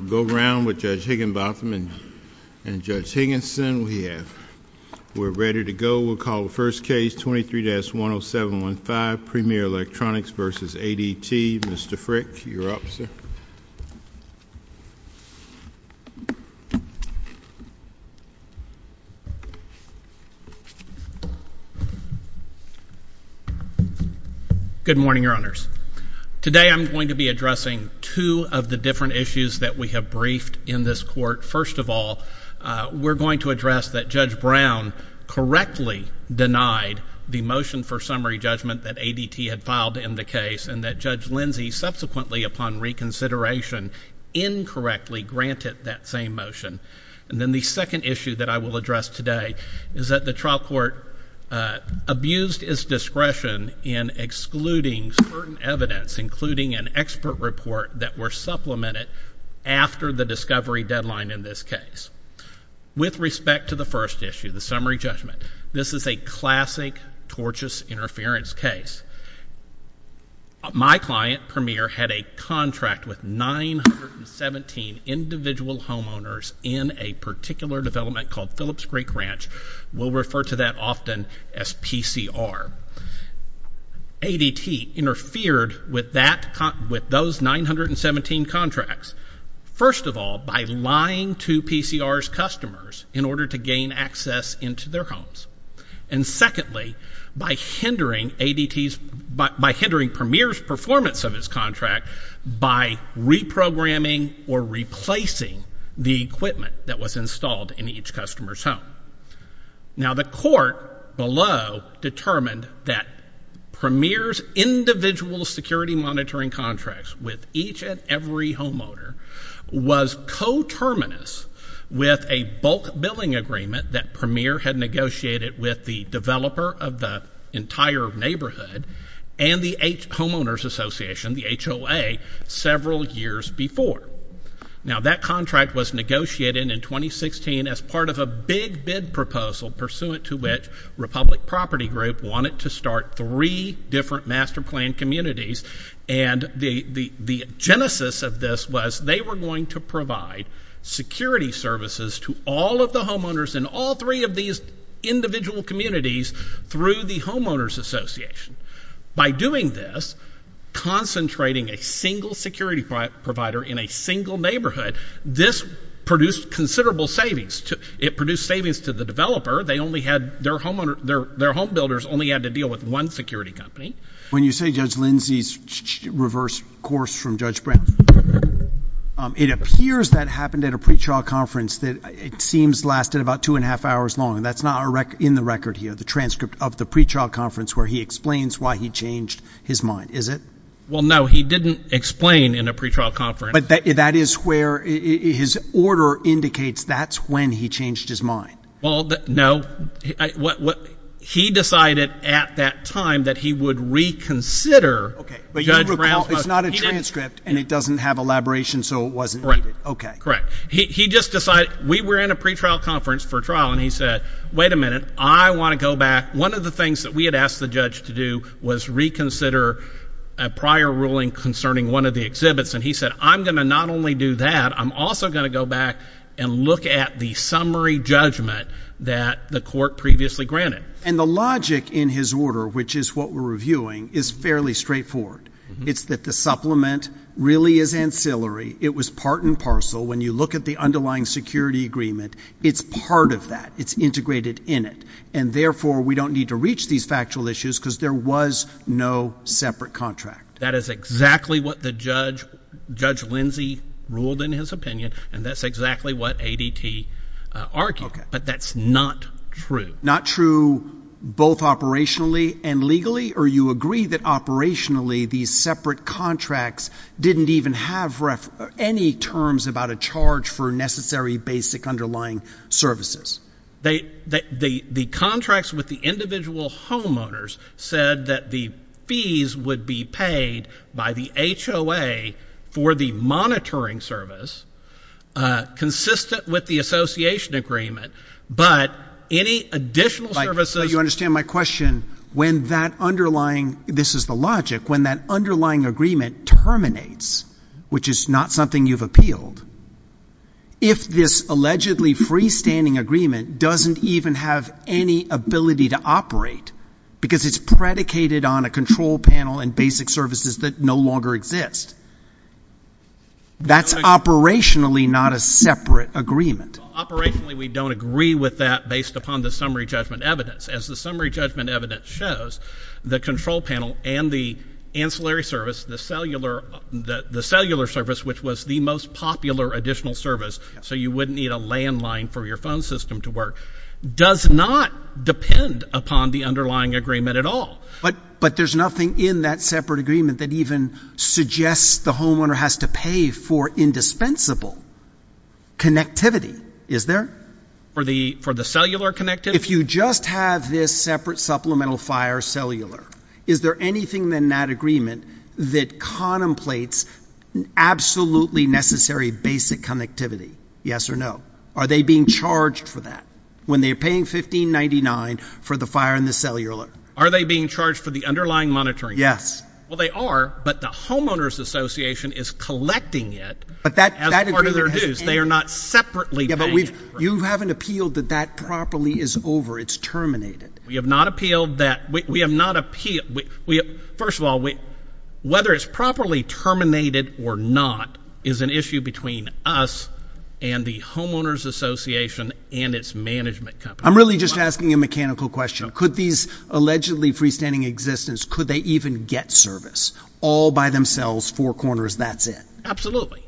We'll go around with Judge Higginbotham and Judge Higginson. We're ready to go. We'll call the first case, 23-10715, Premier Electronics v. ADT. Mr. Frick, you're up, sir. Good morning, Your Honors. Today I'm going to be addressing two of the different issues that we have briefed in this court. First of all, we're going to address that Judge Brown correctly denied the motion for summary judgment that ADT had filed in the case and that Judge Lindsey subsequently, upon reconsideration, incorrectly granted that same motion. And then the second issue that I will address today is that the trial court abused its discretion in excluding certain evidence, including an expert report that were supplemented after the discovery deadline in this case. With respect to the first issue, the summary judgment, this is a classic tortious interference case. My client, Premier, had a contract with 917 individual homeowners in a particular development called Phillips Creek Ranch. We'll refer to that often as PCR. ADT interfered with those 917 contracts, first of all, by lying to PCR's customers in order to gain access into their homes. And secondly, by hindering ADT's, by hindering Premier's performance of his contract by reprogramming or replacing the report below determined that Premier's individual security monitoring contracts with each and every homeowner was coterminous with a bulk billing agreement that Premier had negotiated with the developer of the entire neighborhood and the Homeowners Association, the HOA, several years before. Now, that contract was negotiated in 2016 as part of a big bid proposal pursuant to which Republic Property Group wanted to start three different master plan communities. And the genesis of this was they were going to provide security services to all of the homeowners in all three of these individual communities through the Homeowners Association. By doing this, concentrating a single security provider in a single neighborhood, this produced considerable savings. It produced savings to the developer. Their homebuilders only had to deal with one security company. When you say Judge Lindsey's reverse course from Judge Brown, it appears that happened at a pre-trial conference that it seems lasted about two and a half hours long. That's not in the record here, the transcript of the pre-trial conference where he explains why he changed his mind, is it? Well, no, he didn't explain in a pre-trial conference. But that is where his order indicates that's when he changed his mind. Well, no. He decided at that time that he would reconsider Judge Brown's motion. Okay, but you recall it's not a transcript and it doesn't have elaboration so it wasn't needed. Correct. He just decided, we were in a pre-trial conference for trial and he said, wait a minute, I want to go back. One of the things that we had asked the judge to do was reconsider a prior ruling concerning one of the exhibits and he said, I'm going to not only do that, I'm also going to go back and look at the summary judgment that the court previously granted. And the logic in his order, which is what we're reviewing, is fairly straightforward. It's that the supplement really is ancillary. It was part and parcel. When you look at the underlying security agreement, it's part of that. It's integrated in it. And therefore, we don't need to reach these factual issues because there was no separate contract. That is exactly what the judge, Judge Lindsey, ruled in his opinion and that's exactly what ADT argued. But that's not true. Not true both operationally and legally? Or you agree that operationally these separate contracts didn't even have any terms about a charge for necessary basic underlying services? They, the contracts with the individual homeowners said that the fees would be paid by the HOA for the monitoring service, consistent with the association agreement, but any additional services... But you understand my question. When that underlying, this is the logic, when that underlying agreement terminates, which is not something you've appealed, if this allegedly freestanding agreement doesn't even have any ability to operate because it's predicated on a control panel and basic services that no longer exist, that's operationally not a separate agreement. Well, operationally we don't agree with that based upon the summary judgment evidence. As the summary judgment evidence shows, the control panel and the ancillary service, the cellular service, which was the most popular additional service, so you wouldn't need a landline for your phone system to work, does not depend upon the underlying agreement at all. But there's nothing in that separate agreement that even suggests the homeowner has to pay for indispensable connectivity, is there? For the cellular connectivity? If you just have this separate supplemental fire cellular, is there anything in that agreement that contemplates absolutely necessary basic connectivity? Yes or no? Are they being charged for that? When they're paying $15.99 for the fire and the cellular? Are they being charged for the underlying monitoring? Yes. Well they are, but the homeowner's association is collecting it as part of their dues. They are not separately paying for it. You haven't appealed that that properly is over, it's terminated. We have not appealed that, we have not appealed, first of all, whether it's properly terminated or not is an issue between us and the homeowner's association and its management company. I'm really just asking a mechanical question. Could these allegedly freestanding existence, could they even get service all by themselves, four corners, that's it? Absolutely.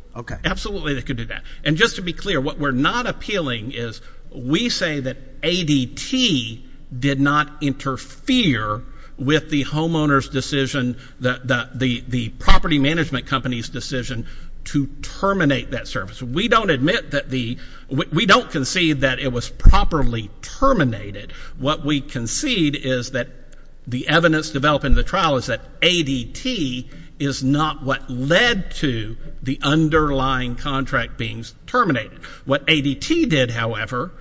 Absolutely they could do that. And just to be clear, what we're not appealing is we say that ADT did not interfere with the homeowner's decision, the property management company's decision to terminate that service. We don't admit that the, we don't concede that it was properly terminated. What we concede is that the evidence developed in the trial is that ADT is not what led to the underlying contract being terminated. What ADT did have however,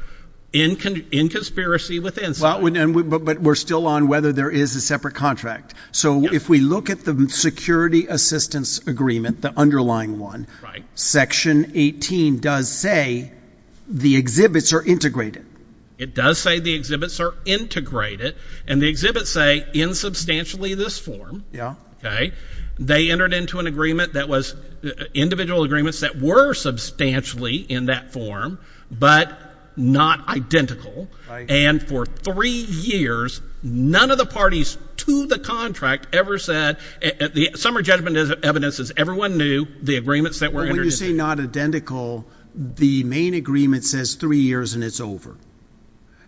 in conspiracy within. But we're still on whether there is a separate contract. So if we look at the security assistance agreement, the underlying one, section 18 does say the exhibits are integrated. It does say the exhibits are integrated and the exhibits say in substantially this form, they entered into an agreement that was individual agreements that were substantially in that form, but not identical. And for three years, none of the parties to the contract ever said, the summary judgment evidence is everyone knew the agreements that were entered into. When you say not identical, the main agreement says three years and it's over.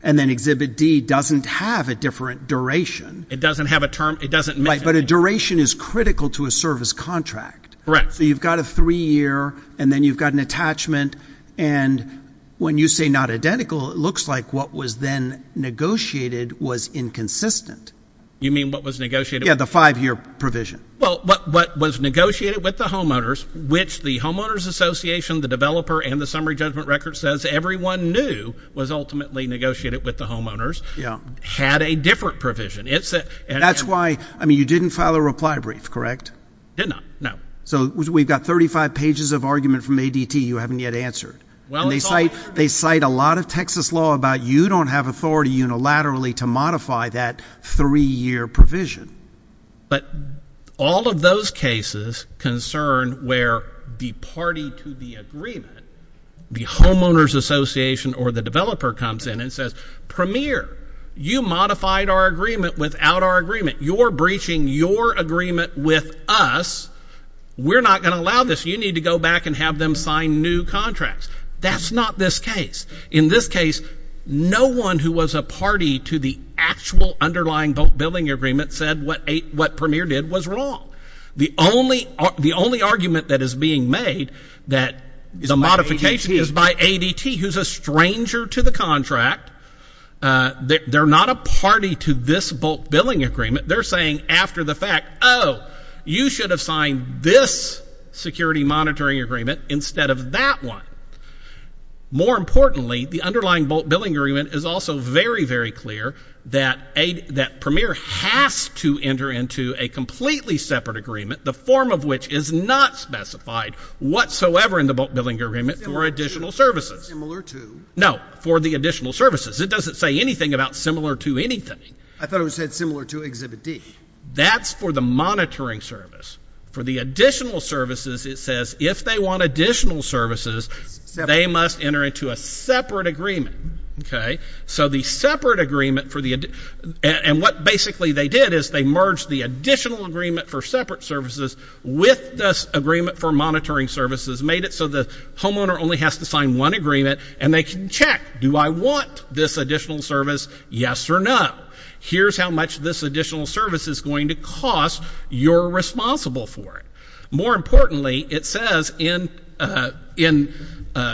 And then exhibit D doesn't have a different duration. It doesn't have a term, it doesn't mention it. But a duration is critical to a service contract. Correct. So you've got a three year and then you've got an attachment. And when you say not identical, it looks like what was then negotiated was inconsistent. You mean what was negotiated? Yeah, the five year provision. Well, what was negotiated with the homeowners, which the homeowners association, the developer and the summary judgment record says everyone knew was ultimately negotiated with the homeowners. Yeah. Had a different provision. That's why, I mean, you didn't file a reply brief, correct? Did not. No. So we've got 35 pages of argument from ADT you haven't yet answered. Well, they cite, they cite a lot of Texas law about you don't have authority unilaterally to modify that three year provision. But all of those cases concern where the party to the agreement, the homeowners association or the developer comes in and says, premier, you modified our agreement without our agreement. You're breaching your agreement with us. We're not going to allow this. You need to go back and have them sign new contracts. That's not this case. In this case, no one who was a party to the actual underlying bulk billing agreement said what Premier did was wrong. The only argument that is being made that the modification is by ADT, who's a stranger to the contract. They're not a party to this bulk billing agreement. They're saying after the fact, oh, you should have signed this security monitoring agreement instead of that one. More importantly, the underlying bulk billing agreement is also very, very clear that a, that premier has to enter into a completely separate agreement, the form of which is not specified whatsoever in the bulk billing agreement for additional services. Similar to? No, for the additional services. It doesn't say anything about similar to anything. I thought it was said similar to exhibit D. That's for the monitoring service. For the additional services, it says if they want additional services, they must enter into a separate agreement. Okay. So the separate agreement for the, and what basically they did is they merged the additional agreement for separate services with this agreement for monitoring services, made it so the homeowner only has to sign one agreement and they can check, do I want this additional service? Yes or no? Here's how much this additional service is going to cost. You're responsible for it. More importantly, it says in, in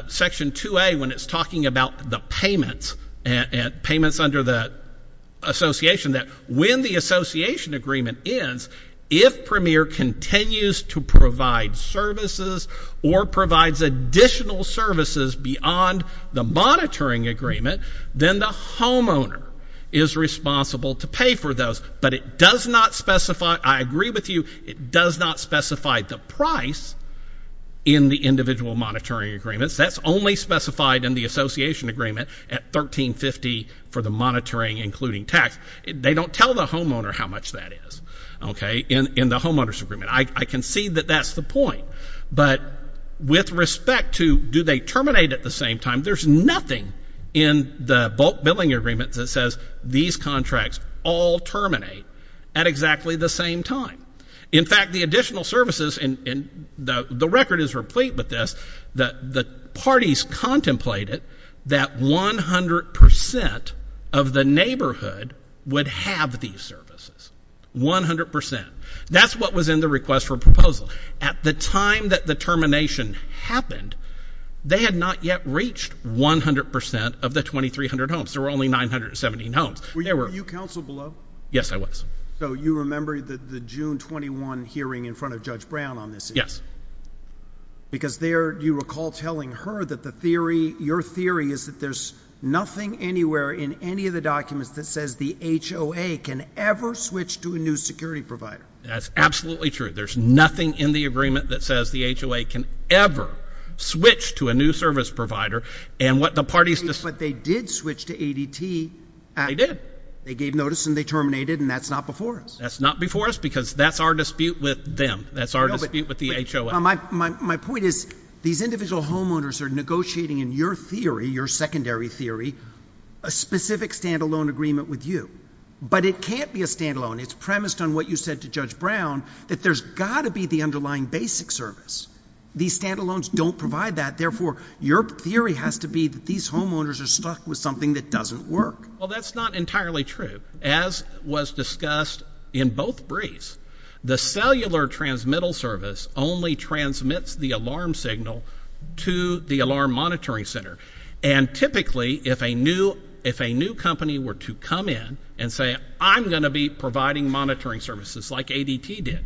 section 2A when it's talking about the payments and payments under the association that when the association agreement ends, if premier continues to provide services or provides additional services beyond the monitoring agreement, then the homeowner is responsible to pay for those. But it does not specify, I agree with you, it does not specify the price in the individual monitoring agreements. That's only specified in the association agreement at $13.50 for the monitoring, including tax. They don't tell the homeowner how much that is. Okay. In, in the homeowners agreement. I, I can see that that's the point. But with respect to do they terminate at the same time, there's nothing in the bulk billing agreement that says these contracts all terminate at exactly the same time. In fact, the additional services in, in the, the record is replete with this, that the parties contemplated that 100% of the neighborhood would have these requests for proposals. At the time that the termination happened, they had not yet reached 100% of the 2300 homes. There were only 917 homes. Were you counsel below? Yes, I was. So you remember the June 21 hearing in front of Judge Brown on this? Yes. Because there you recall telling her that the theory, your theory is that there's nothing anywhere in any of the documents that says the HOA can ever switch to a new security provider. That's absolutely true. There's nothing in the agreement that says the HOA can ever switch to a new service provider and what the parties, but they did switch to ADT. They did. They gave notice and they terminated and that's not before us. That's not before us because that's our dispute with them. That's our dispute with the HOA. My, my, my point is these individual homeowners are negotiating in your theory, your secondary theory, a specific standalone agreement with you, but it can't be a standalone. It's premised on what you said to judge Brown that there's gotta be the underlying basic service. These standalones don't provide that. Therefore, your theory has to be that these homeowners are stuck with something that doesn't work. Well, that's not entirely true. As was discussed in both briefs, the cellular transmittal service only transmits the alarm signal to the alarm monitoring center. And typically if a new, if a new company were to come in and say, I'm going to be providing monitoring services like ADT did,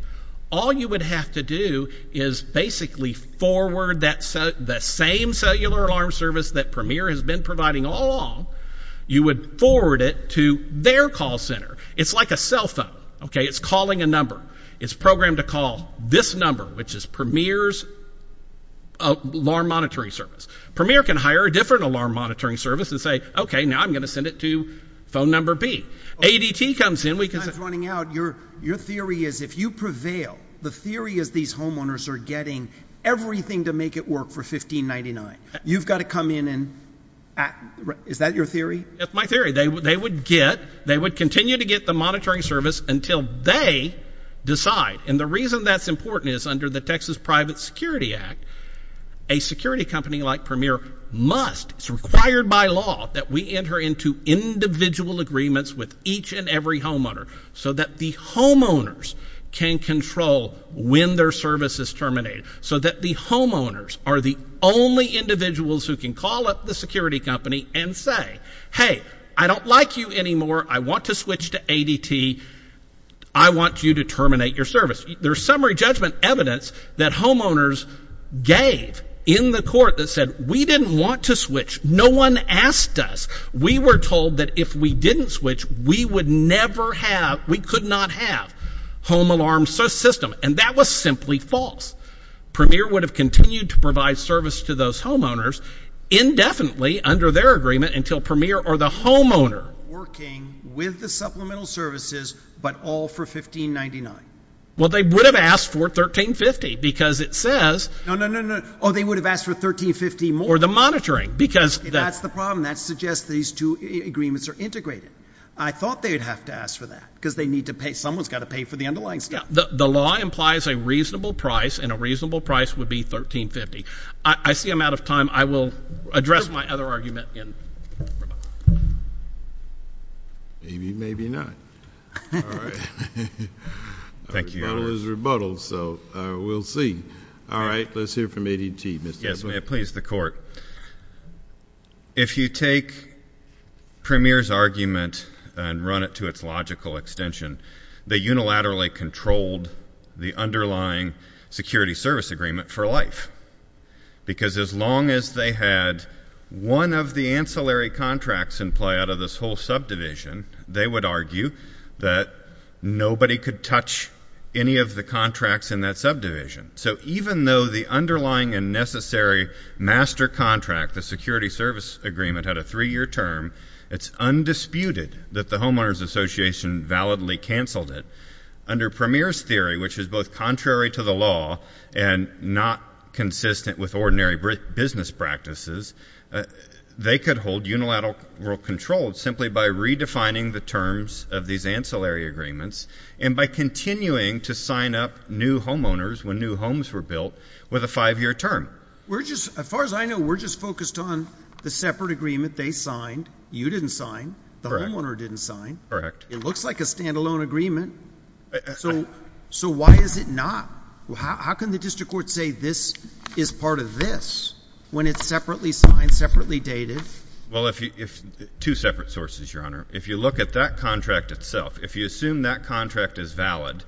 all you would have to do is basically forward that, the same cellular alarm service that Premier has been providing all along. You would forward it to their call center. It's like a cell phone. Okay. It's calling a number. It's programmed to call this number, which is Premier's alarm monitoring service. Premier can hire a different alarm monitoring service and say, okay, now I'm going to send it to phone number B. ADT comes in, we can. Time's running out. Your, your theory is if you prevail, the theory is these homeowners are getting everything to make it work for $15.99. You've got to come in and, is that your theory? That's my theory. They would, they would get, they would continue to get the monitoring service until they decide. And the reason that's important is under the Texas Private Security Act, a security company like Premier must, it's required by law that we enter into individual agreements with each and every homeowner so that the homeowners can control when their service is terminated. So that the homeowners are the only individuals who can call up the security company and say, hey, I don't like you anymore. I want to switch to ADT. I want you to terminate your service. There's summary judgment evidence that homeowners gave in the court that said, we didn't want to switch. No one asked us. We were told that if we didn't switch, we would never have, we could not have home alarm system. And that was simply false. Premier would have continued to provide service to those homeowners indefinitely under their agreement until Premier or the homeowner Working with the supplemental services, but all for $15.99. Well, they would have asked for $13.50 because it says No, no, no, no. Oh, they would have asked for $13.50 more. Or the monitoring because That's the problem. That suggests these two agreements are integrated. I thought they'd have to ask for that because they need to pay, someone's got to pay for the underlying stuff. The law implies a reasonable price and a reasonable price would be $13.50. I see I'm out of time. I will address my other argument in Rebuttal is rebuttal. So we'll see. All right, let's hear from ADT. Yes, please. The court. If you take Premier's argument and run it to its logical extension, they unilaterally controlled the underlying security service agreement for life. Because as long as they had one of the ancillary contracts in play out of this whole subdivision, they would argue that nobody could touch any of the contracts in that subdivision. So even though the underlying and necessary master contract, the security service agreement had a three-year term, it's undisputed that the Homeowners Association validly canceled it. Under Premier's theory, which is both contrary to the law and not consistent with ordinary business practices, they could hold unilateral control simply by redefining the terms of these ancillary agreements and by continuing to sign up new homeowners when new homes were built with a five-year term. As far as I know, we're just focused on the separate agreement they signed. You didn't sign. The homeowner didn't sign. It looks like a standalone agreement. So why is it part of this when it's separately signed, separately dated? Well, two separate sources, Your Honor. If you look at that contract itself, if you assume that contract is valid,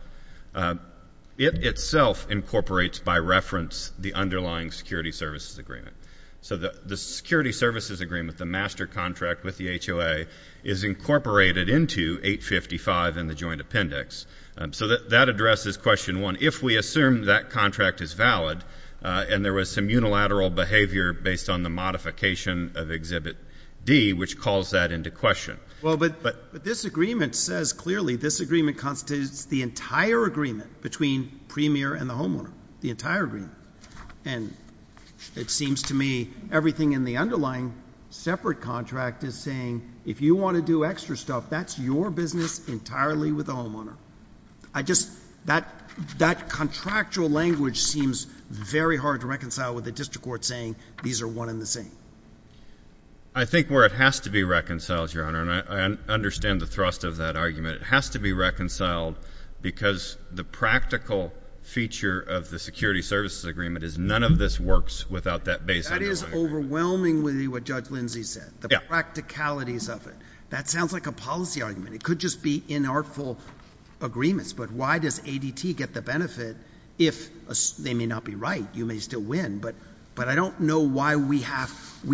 it itself incorporates by reference the underlying security services agreement. So the security services agreement, the master contract with the HOA, is incorporated into 855 and the joint appendix. So that addresses question one. If we assume that contract is valid, and there was some unilateral behavior based on the modification of Exhibit D, which calls that into question. Well, but this agreement says clearly, this agreement constitutes the entire agreement between Premier and the homeowner, the entire agreement. And it seems to me everything in the underlying separate contract is saying, if you want to do extra stuff, that's your business entirely with the homeowner. I just, that contractual language seems very hard to reconcile with the district court saying, these are one and the same. I think where it has to be reconciled, Your Honor, and I understand the thrust of that argument, it has to be reconciled because the practical feature of the security services agreement is none of this works without that base underlying agreement. That is overwhelmingly what Judge Lindsay said, the practicalities of it. That sounds like a policy argument. It could just be inartful agreements. But why does ADT get the benefit if they may not be right? You may still win. But I don't know why we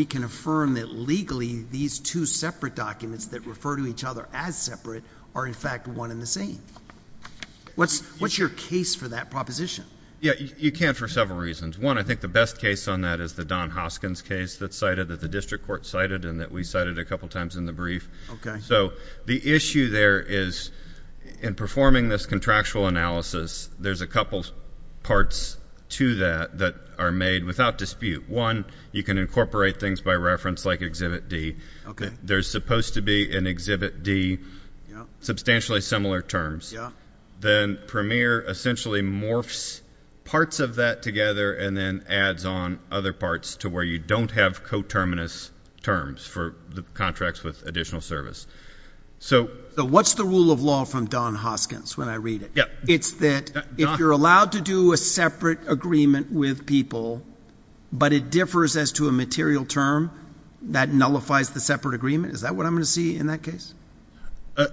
can affirm that legally these two separate documents that refer to each other as separate are, in fact, one and the same. What's your case for that proposition? You can for several reasons. One, I think the best case on that is the Don Hoskins case that's cited, that the district court cited and that we cited a couple times in the brief. So the issue there is, in performing this contractual analysis, there's a couple parts to that that are made without dispute. One, you can incorporate things by reference like Exhibit D. There's supposed to be in Exhibit D substantially similar terms. Then Premier essentially morphs parts of that together and then adds on other parts to where you don't have coterminous terms for the contracts with additional service. So what's the rule of law from Don Hoskins when I read it? It's that if you're allowed to do a separate agreement with people, but it differs as to a material term, that nullifies the separate agreement? Is that what I'm going to see in that case?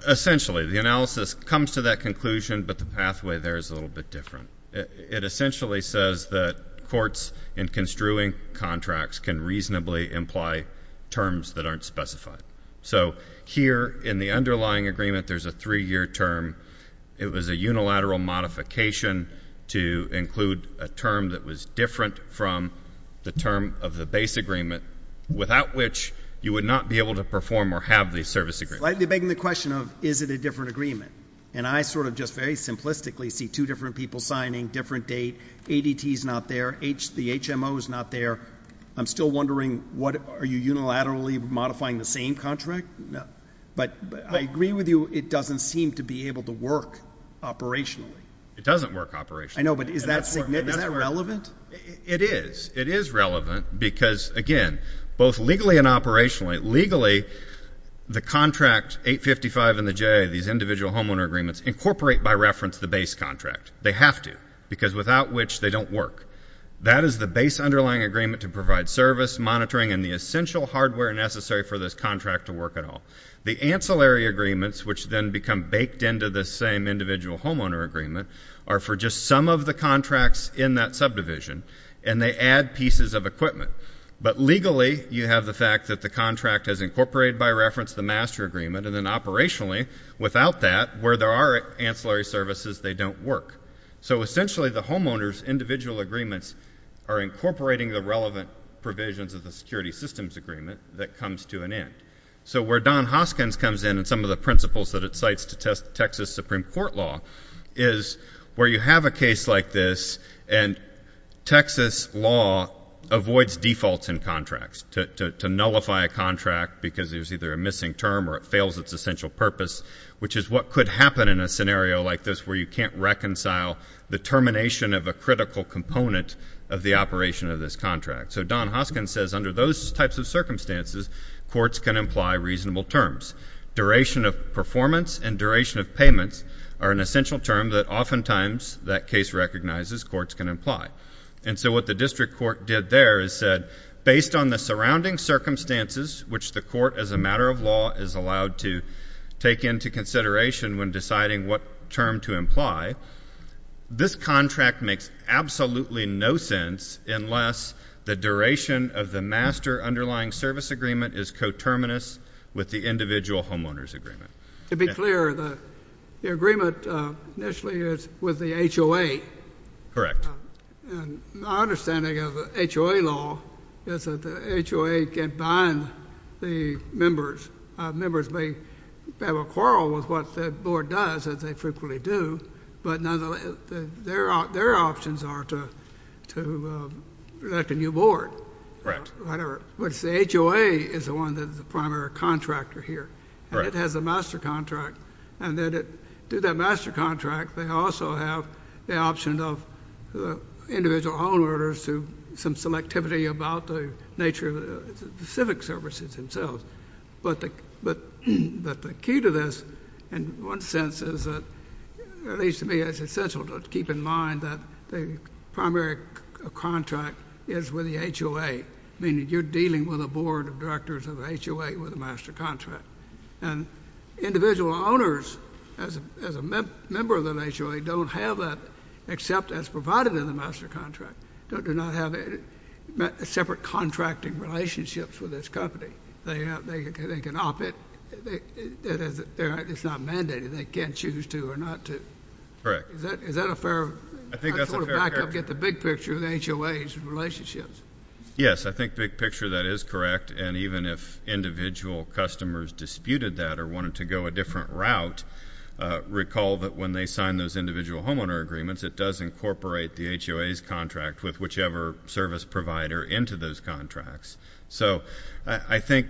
Essentially. The analysis comes to that conclusion, but the pathway there is a little bit different. It essentially says that courts in construing contracts can reasonably imply terms that aren't specified. So here in the underlying agreement, there's a three-year term. It was a unilateral modification to include a term that was different from the term of the base agreement, without which you would not be able to perform or have the service agreement. Slightly begging the question of, is it a different agreement? And I sort of just very different date. ADT is not there. The HMO is not there. I'm still wondering, are you unilaterally modifying the same contract? But I agree with you, it doesn't seem to be able to work operationally. It doesn't work operationally. I know, but is that relevant? It is. It is relevant because, again, both legally and operationally, legally the contract 855 and the JA, these individual homeowner agreements, incorporate by reference the base contract. They have to, because without which they don't work. That is the base underlying agreement to provide service, monitoring, and the essential hardware necessary for this contract to work at all. The ancillary agreements, which then become baked into the same individual homeowner agreement, are for just some of the contracts in that subdivision, and they add pieces of equipment. But legally, you have the fact that the contract has incorporated by reference the master agreement, and then operationally, without that, where there are ancillary services, they don't work. So essentially the homeowners' individual agreements are incorporating the relevant provisions of the security systems agreement that comes to an end. So where Don Hoskins comes in and some of the principles that it cites to Texas Supreme Court law is where you have a case like this, and Texas law avoids defaults in contracts, to nullify a contract because there's either a missing term or it fails its essential purpose, which is what could happen in a scenario like this where you can't reconcile the termination of a critical component of the operation of this contract. So Don Hoskins says under those types of circumstances, courts can imply reasonable terms. Duration of performance and duration of payments are an essential term that oftentimes that case recognizes courts can imply. And so what the district court did there is said, based on the surrounding circumstances, which the court as a matter of law is allowed to take into consideration when deciding what term to imply, this contract makes absolutely no sense unless the duration of the master underlying service agreement is coterminous with the individual homeowners' agreement. To be clear, the agreement initially is with the HOA. Correct. My understanding of HOA law is that the HOA can bind the members. Members may have a quarrel with what the board does, as they frequently do, but their options are to elect a new board. Right. Which the HOA is the one that is the primary contractor here, and it has a master contract. And through that master contract, they also have the option of individual homeowners to some selectivity about the nature of the civic services themselves. But the key to this, in one sense, is that, at least to me, it's essential to keep in mind that the primary contract is with the HOA, meaning you're dealing with a board of directors of HOA with a master contract. And individual owners, as a member of the HOA, don't have that except as provided in the master contract, do not have separate contracting relationships with this company. They can opt it. It's not mandated. They can't choose to or not to. Correct. Is that a fair? I think that's a fair answer. I sort of back up, get the big picture of the HOA's relationships. Yes, I think big picture, that is correct. And even if individual customers disputed that or wanted to go a different route, recall that when they sign those individual homeowner agreements, it does incorporate the HOA's contract with whichever service provider into those contracts. So I think,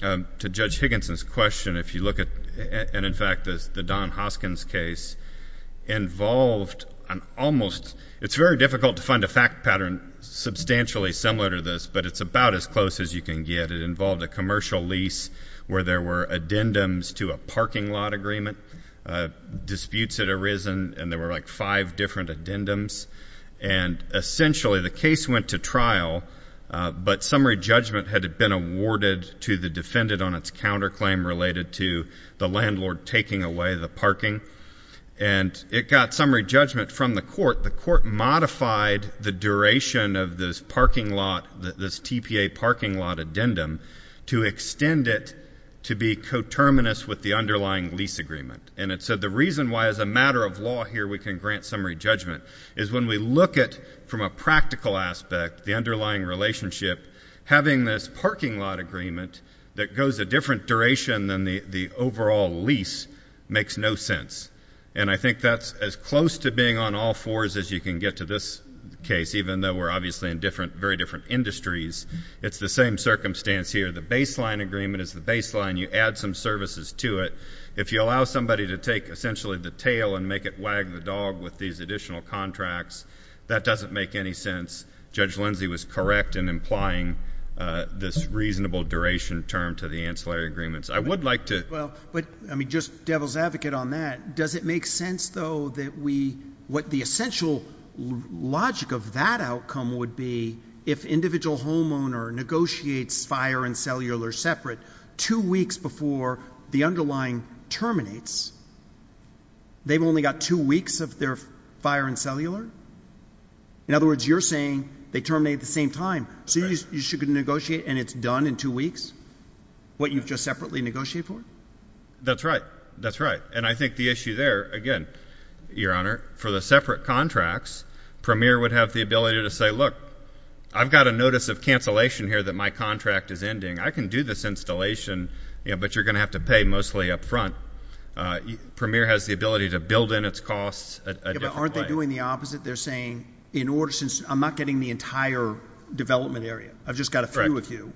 to Judge Higginson's question, if you look at, and in fact, the Don Hoskins case involved an almost, it's very difficult to find a fact pattern substantially similar to this, but it's about as close as you can get. It involved a commercial lease where there were addendums to a parking lot agreement, disputes had arisen, and there were like five different addendums. And essentially, the case went to trial, but summary judgment had been awarded to the defendant on its counterclaim related to the landlord taking away the parking. And it got summary judgment from the court. The court modified the duration of this parking lot, this TPA parking lot addendum, to extend it to be coterminous with the underlying lease agreement. And so the reason why, as a matter of law here, we can grant summary judgment, is when we look at, from a practical aspect, the underlying relationship, having this parking lot agreement that goes a different duration than the overall lease makes no sense. And I think that's as close to being on all fours as you can get to this case, even though we're obviously in very different industries. It's the same circumstance here. The baseline agreement is the baseline. You add some services to it. If you allow somebody to take essentially the tail and make it wag the dog with these additional contracts, that doesn't make any correct in implying this reasonable duration term to the ancillary agreements. I would like to — Well, I mean, just devil's advocate on that, does it make sense, though, that we — what the essential logic of that outcome would be if individual homeowner negotiates fire and cellular separate two weeks before the underlying terminates, they've only got two weeks of their fire and cellular? In other words, you're saying they terminate at the same time. So you should negotiate and it's done in two weeks, what you've just separately negotiated for? That's right. That's right. And I think the issue there, again, Your Honor, for the separate contracts, Premier would have the ability to say, look, I've got a notice of cancellation here that my contract is ending. I can do this installation, you know, but you're going to have to pay mostly up front. Premier has the ability to build in its costs a different way. And by doing the opposite, they're saying, in order — since I'm not getting the entire development area, I've just got a few of you,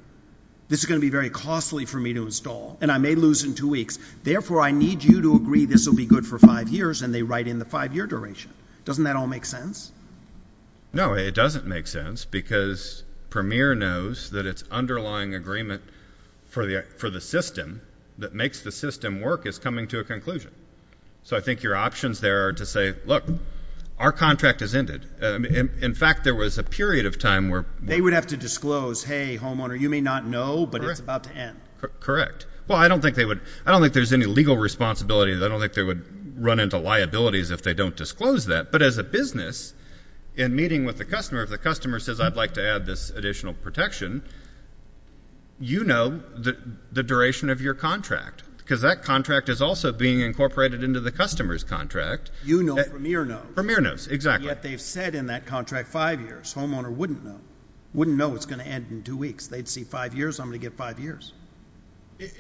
this is going to be very costly for me to install and I may lose in two weeks. Therefore, I need you to agree this will be good for five years. And they write in the five-year duration. Doesn't that all make sense? No, it doesn't make sense because Premier knows that its underlying agreement for the system that makes the system work is coming to a conclusion. So I think your options there are to say, look, our contract has ended. In fact, there was a period of time where — They would have to disclose, hey, homeowner, you may not know, but it's about to end. Correct. Well, I don't think they would — I don't think there's any legal responsibility. I don't think they would run into liabilities if they don't disclose that. But as a business, in meeting with the customer, if the customer says, I'd like to add this additional protection, you know the duration of your contract because that contract is also being incorporated into the customer's contract. You know Premier knows. Premier knows, exactly. And yet they've said in that contract five years. Homeowner wouldn't know. Wouldn't know it's going to end in two weeks. They'd see five years, I'm going to get five years.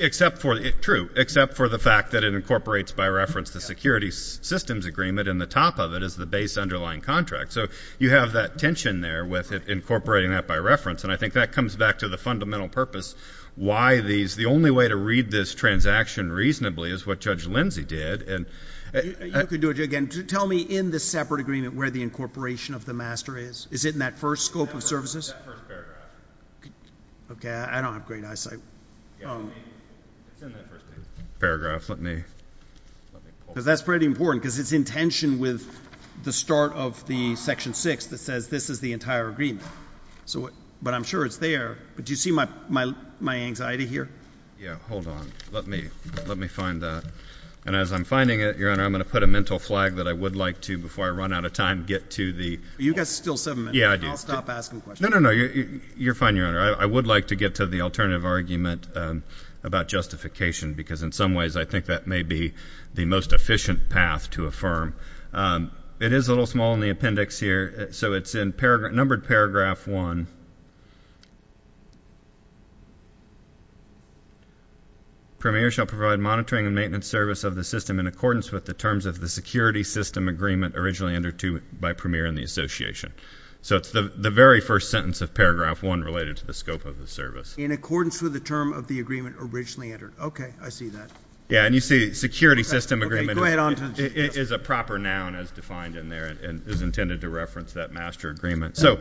Except for — true. Except for the fact that it incorporates, by reference, the security systems agreement and the top of it is the base underlying contract. So you have that tension there with incorporating that by reference. And I think that comes back to the fundamental purpose why these — the only way to read this transaction reasonably is what Judge Lindsey did. You could do it again. Tell me in the separate agreement where the incorporation of the master is. Is it in that first scope of services? It's in that first paragraph. Okay. I don't have great eyesight. It's in that first paragraph. Paragraph. Let me — Because that's pretty important because it's in tension with the start of the section six that says this is the entire agreement. But I'm sure it's there. But do you see my anxiety here? Yeah. Hold on. Let me find that. And as I'm finding it, Your Honor, I'm going to put a mental flag that I would like to, before I run out of time, get to the — You got still seven minutes. Yeah, I do. I'll stop asking questions. No, no, no. You're fine, Your Honor. I would like to get to the alternative argument about justification because in some ways I think that may be the most efficient path to affirm. It is a little small in the appendix here. So it's in numbered paragraph one. Premier shall provide monitoring and maintenance service of the system in accordance with the terms of the security system agreement originally entered to by Premier and the Association. So it's the very first sentence of paragraph one related to the scope of the service. In accordance with the term of the agreement originally entered. Okay. I see that. Yeah. And you see security system agreement — Proper noun as defined in there and is intended to reference that master agreement. So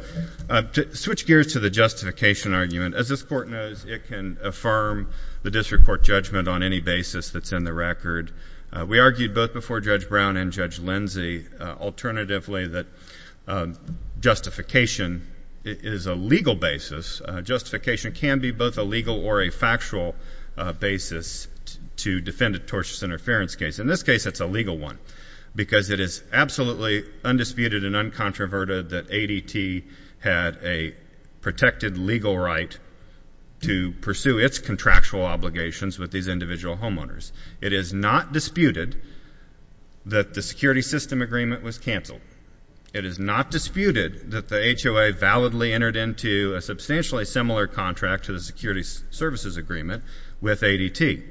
switch gears to the justification argument. As this Court knows, it can affirm the district court judgment on any basis that's in the record. We argued both before Judge Brown and Judge Lindsey alternatively that justification is a legal basis. Justification can be both a legal or a factual basis to defend a tortious interference case. In this case, it's a legal one because it is absolutely undisputed and uncontroverted that ADT had a protected legal right to pursue its contractual obligations with these individual homeowners. It is not disputed that the security system agreement was canceled. It is not disputed that the HOA validly entered into a substantially similar contract to the security services agreement with ADT.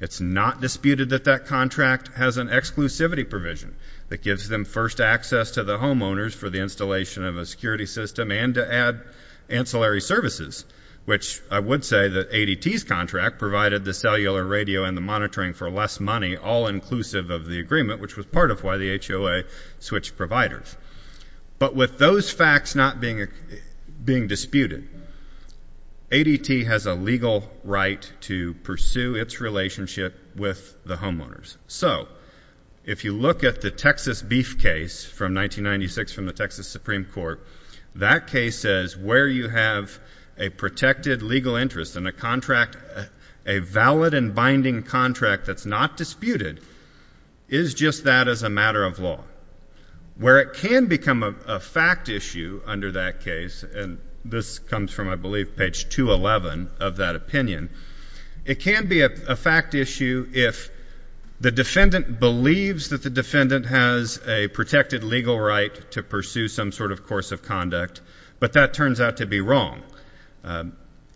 It's not disputed that that contract has an exclusivity provision that gives them first access to the homeowners for the installation of a security system and to add ancillary services, which I would say that ADT's contract provided the cellular radio and the monitoring for less money, all inclusive of the agreement, which was part of why the HOA switched providers. But with those facts not being disputed, ADT has a legal right to pursue its relationship with the homeowners. So if you look at the Texas beef case from 1996 from the Texas Supreme Court, that case says where you have a protected legal interest in a contract, a valid and binding contract that's not disputed, is just that as a matter of law. Where it can become a fact issue under that case, and this comes from, I believe, page 211 of that opinion, it can be a fact issue if the defendant believes that the defendant has a protected legal right to pursue some sort of course of conduct, but that turns out to be wrong.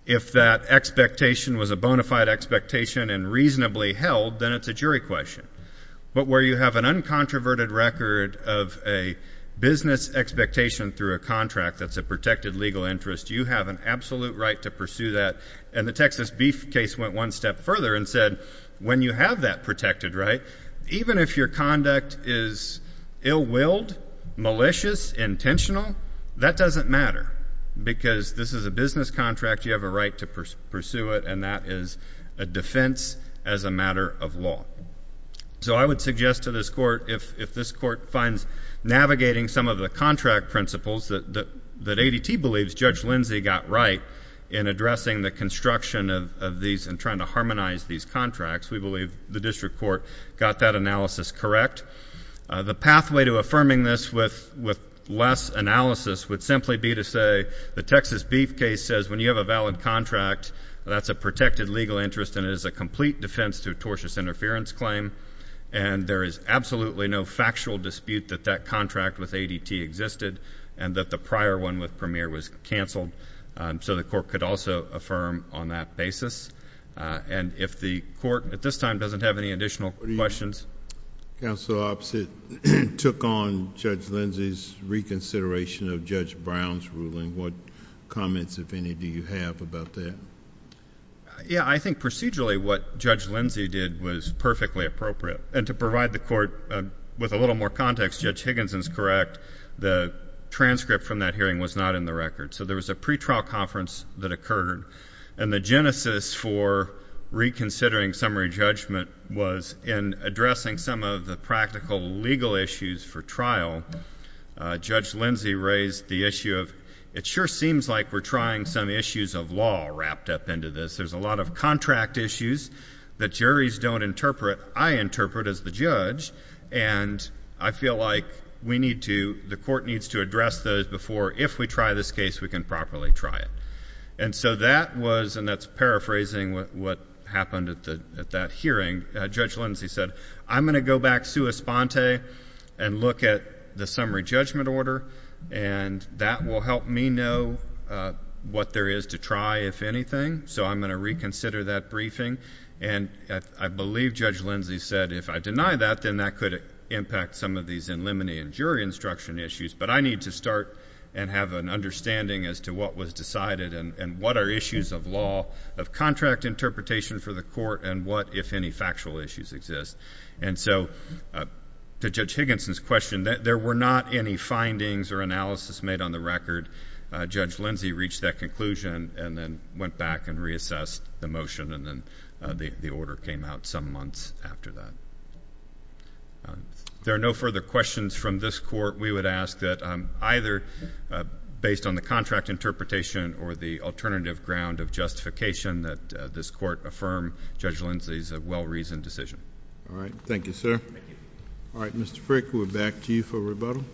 If that expectation was a bona fide expectation and reasonably held, then it's a jury question. But where you have an uncontroverted record of a business expectation through a contract that's a protected legal interest, you have an absolute right to pursue that. And the Texas beef case went one step further and said when you have that protected right, even if your conduct is ill-willed, malicious, intentional, that doesn't matter, because this is a business contract. You have a right to pursue it, and that is a defense as a matter of law. So I would suggest to this Court if this Court finds navigating some of the contract principles that ADT believes Judge Lindsay got right in addressing the construction of these and trying to harmonize these contracts, we believe the district court got that analysis correct. The pathway to affirming this with less analysis would simply be to say the Texas beef case says when you have a valid contract, that's a protected legal interest and it is a complete defense to a tortious interference claim, and there is absolutely no factual dispute that that contract with ADT existed and that the prior one with Premier was canceled. So the Court could also affirm on that basis. And if the Court at this time doesn't have any additional questions. Counsel Oppsitt took on Judge Lindsay's reconsideration of Judge Brown's ruling. What comments, if any, do you have about that? Yeah, I think procedurally what Judge Lindsay did was perfectly appropriate. And to provide the Court with a little more context, Judge Higginson is correct. The transcript from that hearing was not in the record. So there was a pretrial conference that occurred, and the genesis for reconsidering summary judgment was in addressing some of the practical legal issues for trial. Judge Lindsay raised the issue of it sure seems like we're trying some issues of law wrapped up into this. There's a lot of contract issues that juries don't interpret, I interpret as the judge, and I feel like we need to, the Court needs to address those before if we try this case, we can properly try it. And so that was, and that's paraphrasing what happened at that hearing. Judge Lindsay said, I'm going to go back sua sponte and look at the summary judgment order, and that will help me know what there is to try, if anything. So I'm going to reconsider that briefing. And I believe Judge Lindsay said if I deny that, then that could impact some of these in limine and jury instruction issues. But I need to start and have an understanding as to what was decided and what are issues of law of contract interpretation for the Court and what, if any, factual issues exist. And so to Judge Higginson's question, there were not any findings or analysis made on the record. Judge Lindsay reached that conclusion and then went back and reassessed the motion, and then the order came out some months after that. If there are no further questions from this Court, we would ask that either based on the contract interpretation or the alternative ground of justification that this Court affirm Judge Lindsay's well-reasoned decision. All right. Thank you, sir. Thank you. All right. Mr. Frick, we're back to you for rebuttal.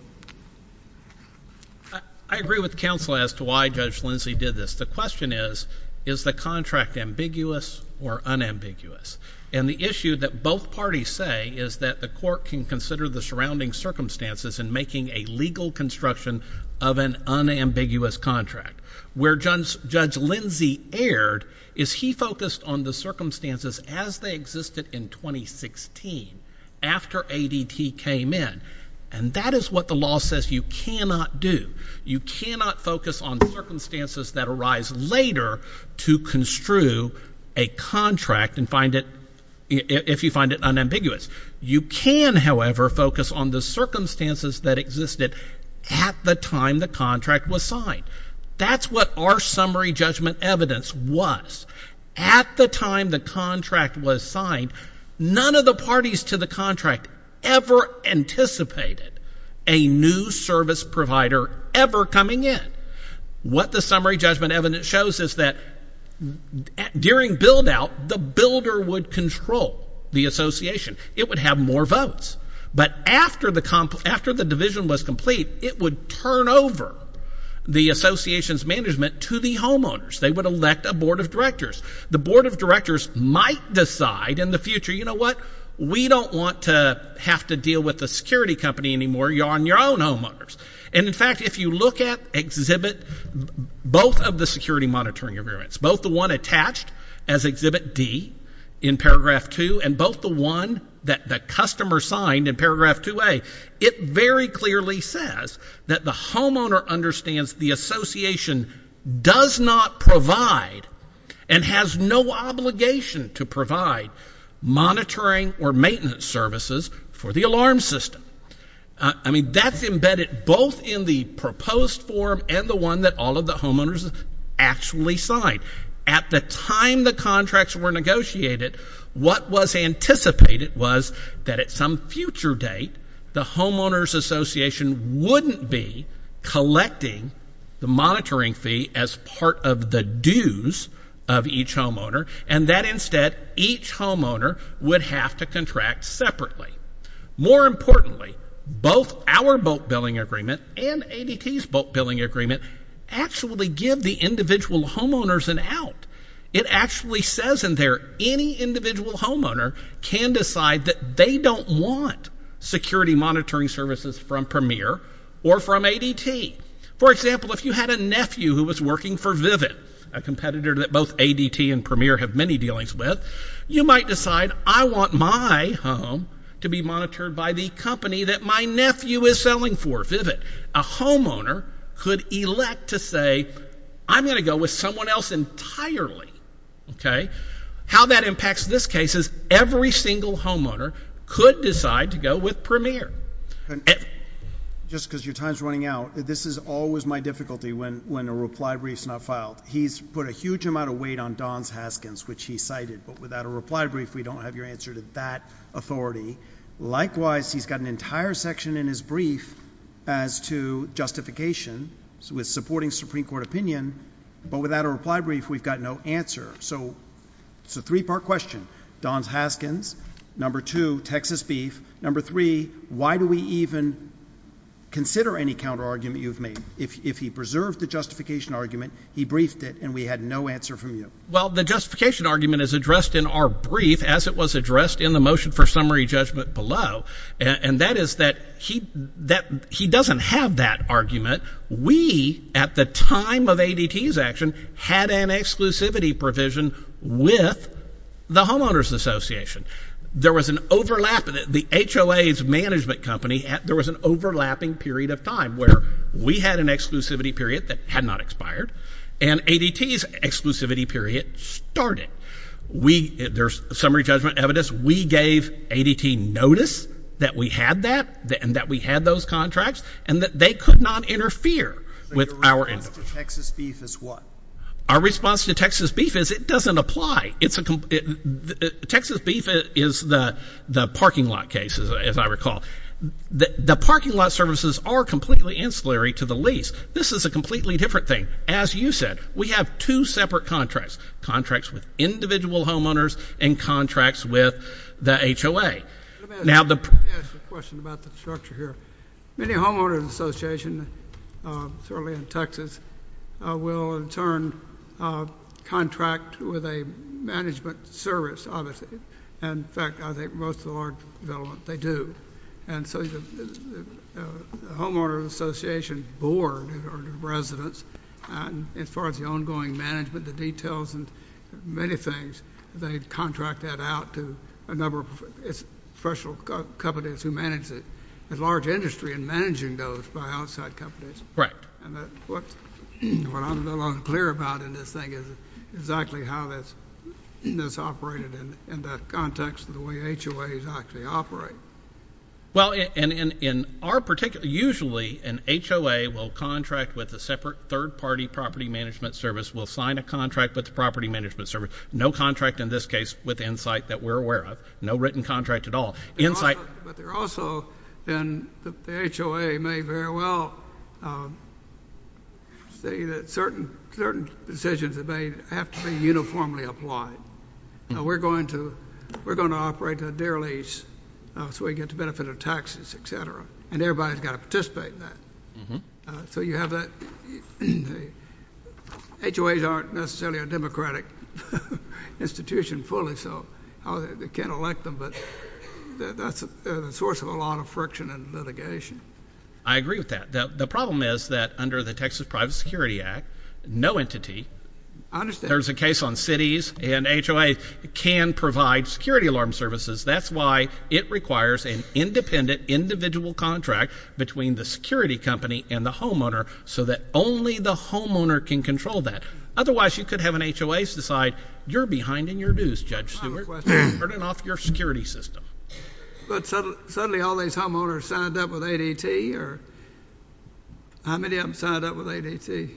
I agree with counsel as to why Judge Lindsay did this. The question is, is the contract ambiguous or unambiguous? And the issue that both parties say is that the Court can consider the surrounding circumstances in making a legal construction of an unambiguous contract. Where Judge Lindsay erred is he focused on the circumstances as they existed in 2016, after ADT came in. And that is what the law says you cannot do. You cannot focus on circumstances that arise later to construe a contract if you find it unambiguous. You can, however, focus on the circumstances that existed at the time the contract was signed. That's what our summary judgment evidence was. At the time the contract was signed, none of the parties to the contract ever anticipated a new service provider ever coming in. What the summary judgment evidence shows is that during build-out, the builder would control the association. It would have more votes. But after the division was complete, it would turn over the association's management to the homeowners. They would elect a board of directors. The board of directors might decide in the future, you know what? We don't want to have to deal with the security company anymore. You're on your own, homeowners. And, in fact, if you look at Exhibit B, both of the security monitoring agreements, both the one attached as Exhibit D in paragraph 2 and both the one that the customer signed in paragraph 2A, it very clearly says that the homeowner understands the association does not provide and has no obligation to provide monitoring or maintenance services for the alarm system. I mean, that's embedded both in the proposed form and the one that all of the homeowners actually signed. At the time the contracts were negotiated, what was anticipated was that at some future date, the homeowners association wouldn't be collecting the monitoring fee as part of the dues of each homeowner, and that, instead, each homeowner would have to contract separately. More importantly, both our bulk billing agreement and ADT's bulk billing agreement actually give the individual homeowners an out. It actually says in there any individual homeowner can decide that they don't want security monitoring services from Premier or from ADT. For example, if you had a nephew who was working for Vivid, a competitor that both ADT and Premier have many dealings with, you might decide, I want my home to be monitored by the company that my nephew is selling for, Vivid. A homeowner could elect to say, I'm going to go with someone else entirely. How that impacts this case is every single homeowner could decide to go with Premier. Just because your time is running out, this is always my difficulty when a reply brief is not filed. He's put a huge amount of weight on Don's Haskins, which he cited, but without a reply brief, we don't have your answer to that authority. Likewise, he's got an entire section in his brief as to justification with supporting Supreme Court opinion, but without a reply brief, we've got no answer. So it's a three-part question. Don's Haskins, number two, Texas beef, number three, why do we even consider any counterargument you've made? If he preserved the justification argument, he briefed it, and we had no answer from you. Well, the justification argument is addressed in our brief as it was addressed in the motion for summary judgment below, and that is that he doesn't have that argument. We, at the time of ADT's action, had an exclusivity provision with the Homeowners Association. There was an overlap. The HOA's management company, there was an overlapping period of time where we had an exclusivity period that had not expired, and ADT's exclusivity period started. There's summary judgment evidence. We gave ADT notice that we had that and that we had those contracts and that they could not interfere with our end. So your response to Texas beef is what? Our response to Texas beef is it doesn't apply. Texas beef is the parking lot case, as I recall. The parking lot services are completely ancillary to the lease. This is a completely different thing. As you said, we have two separate contracts, contracts with individual homeowners and contracts with the HOA. Let me ask you a question about the structure here. Many homeowners associations, certainly in Texas, will in turn contract with a management service, obviously. In fact, I think most of the large developments, they do. And so the Homeowners Association board or the residents, as far as the ongoing management, the details and many things, they contract that out to a number of professional companies who manage it. There's a large industry in managing those by outside companies. Right. What I'm not clear about in this thing is exactly how that's operated in the context of the way HOAs actually operate. Well, usually an HOA will contract with a separate third-party property management service, will sign a contract with the property management service. No contract in this case with Insight that we're aware of. No written contract at all. But there also, then, the HOA may very well say that certain decisions may have to be uniformly applied. We're going to operate a deer lease so we get the benefit of taxes, et cetera, and everybody's got to participate in that. So you have that. HOAs aren't necessarily a democratic institution fully, so they can't elect them, but that's a source of a lot of friction and litigation. I agree with that. The problem is that under the Texas Private Security Act, no entity. I understand. There's a case on cities, and HOA can provide security alarm services. That's why it requires an independent, individual contract between the security company and the homeowner so that only the homeowner can control that. Otherwise, you could have an HOA decide, you're behind in your dues, Judge Seward. I have a question. You're turning off your security system. But suddenly all these homeowners signed up with ADT, or how many of them signed up with ADT?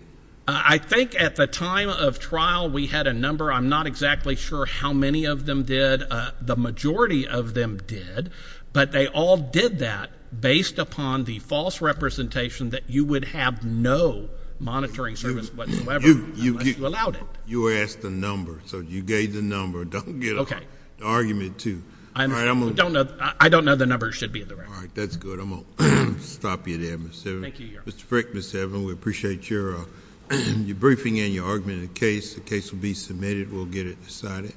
I think at the time of trial, we had a number. I'm not exactly sure how many of them did. The majority of them did, but they all did that based upon the false representation that you would have no monitoring service whatsoever unless you allowed it. You asked the number, so you gave the number. Don't get an argument, too. I don't know the number. It should be in the record. All right, that's good. I'm going to stop you there, Mr. Seward. Thank you, Your Honor. Mr. Frick, Ms. Seward, we appreciate your briefing and your argument in the case. The case will be submitted. We'll get it decided.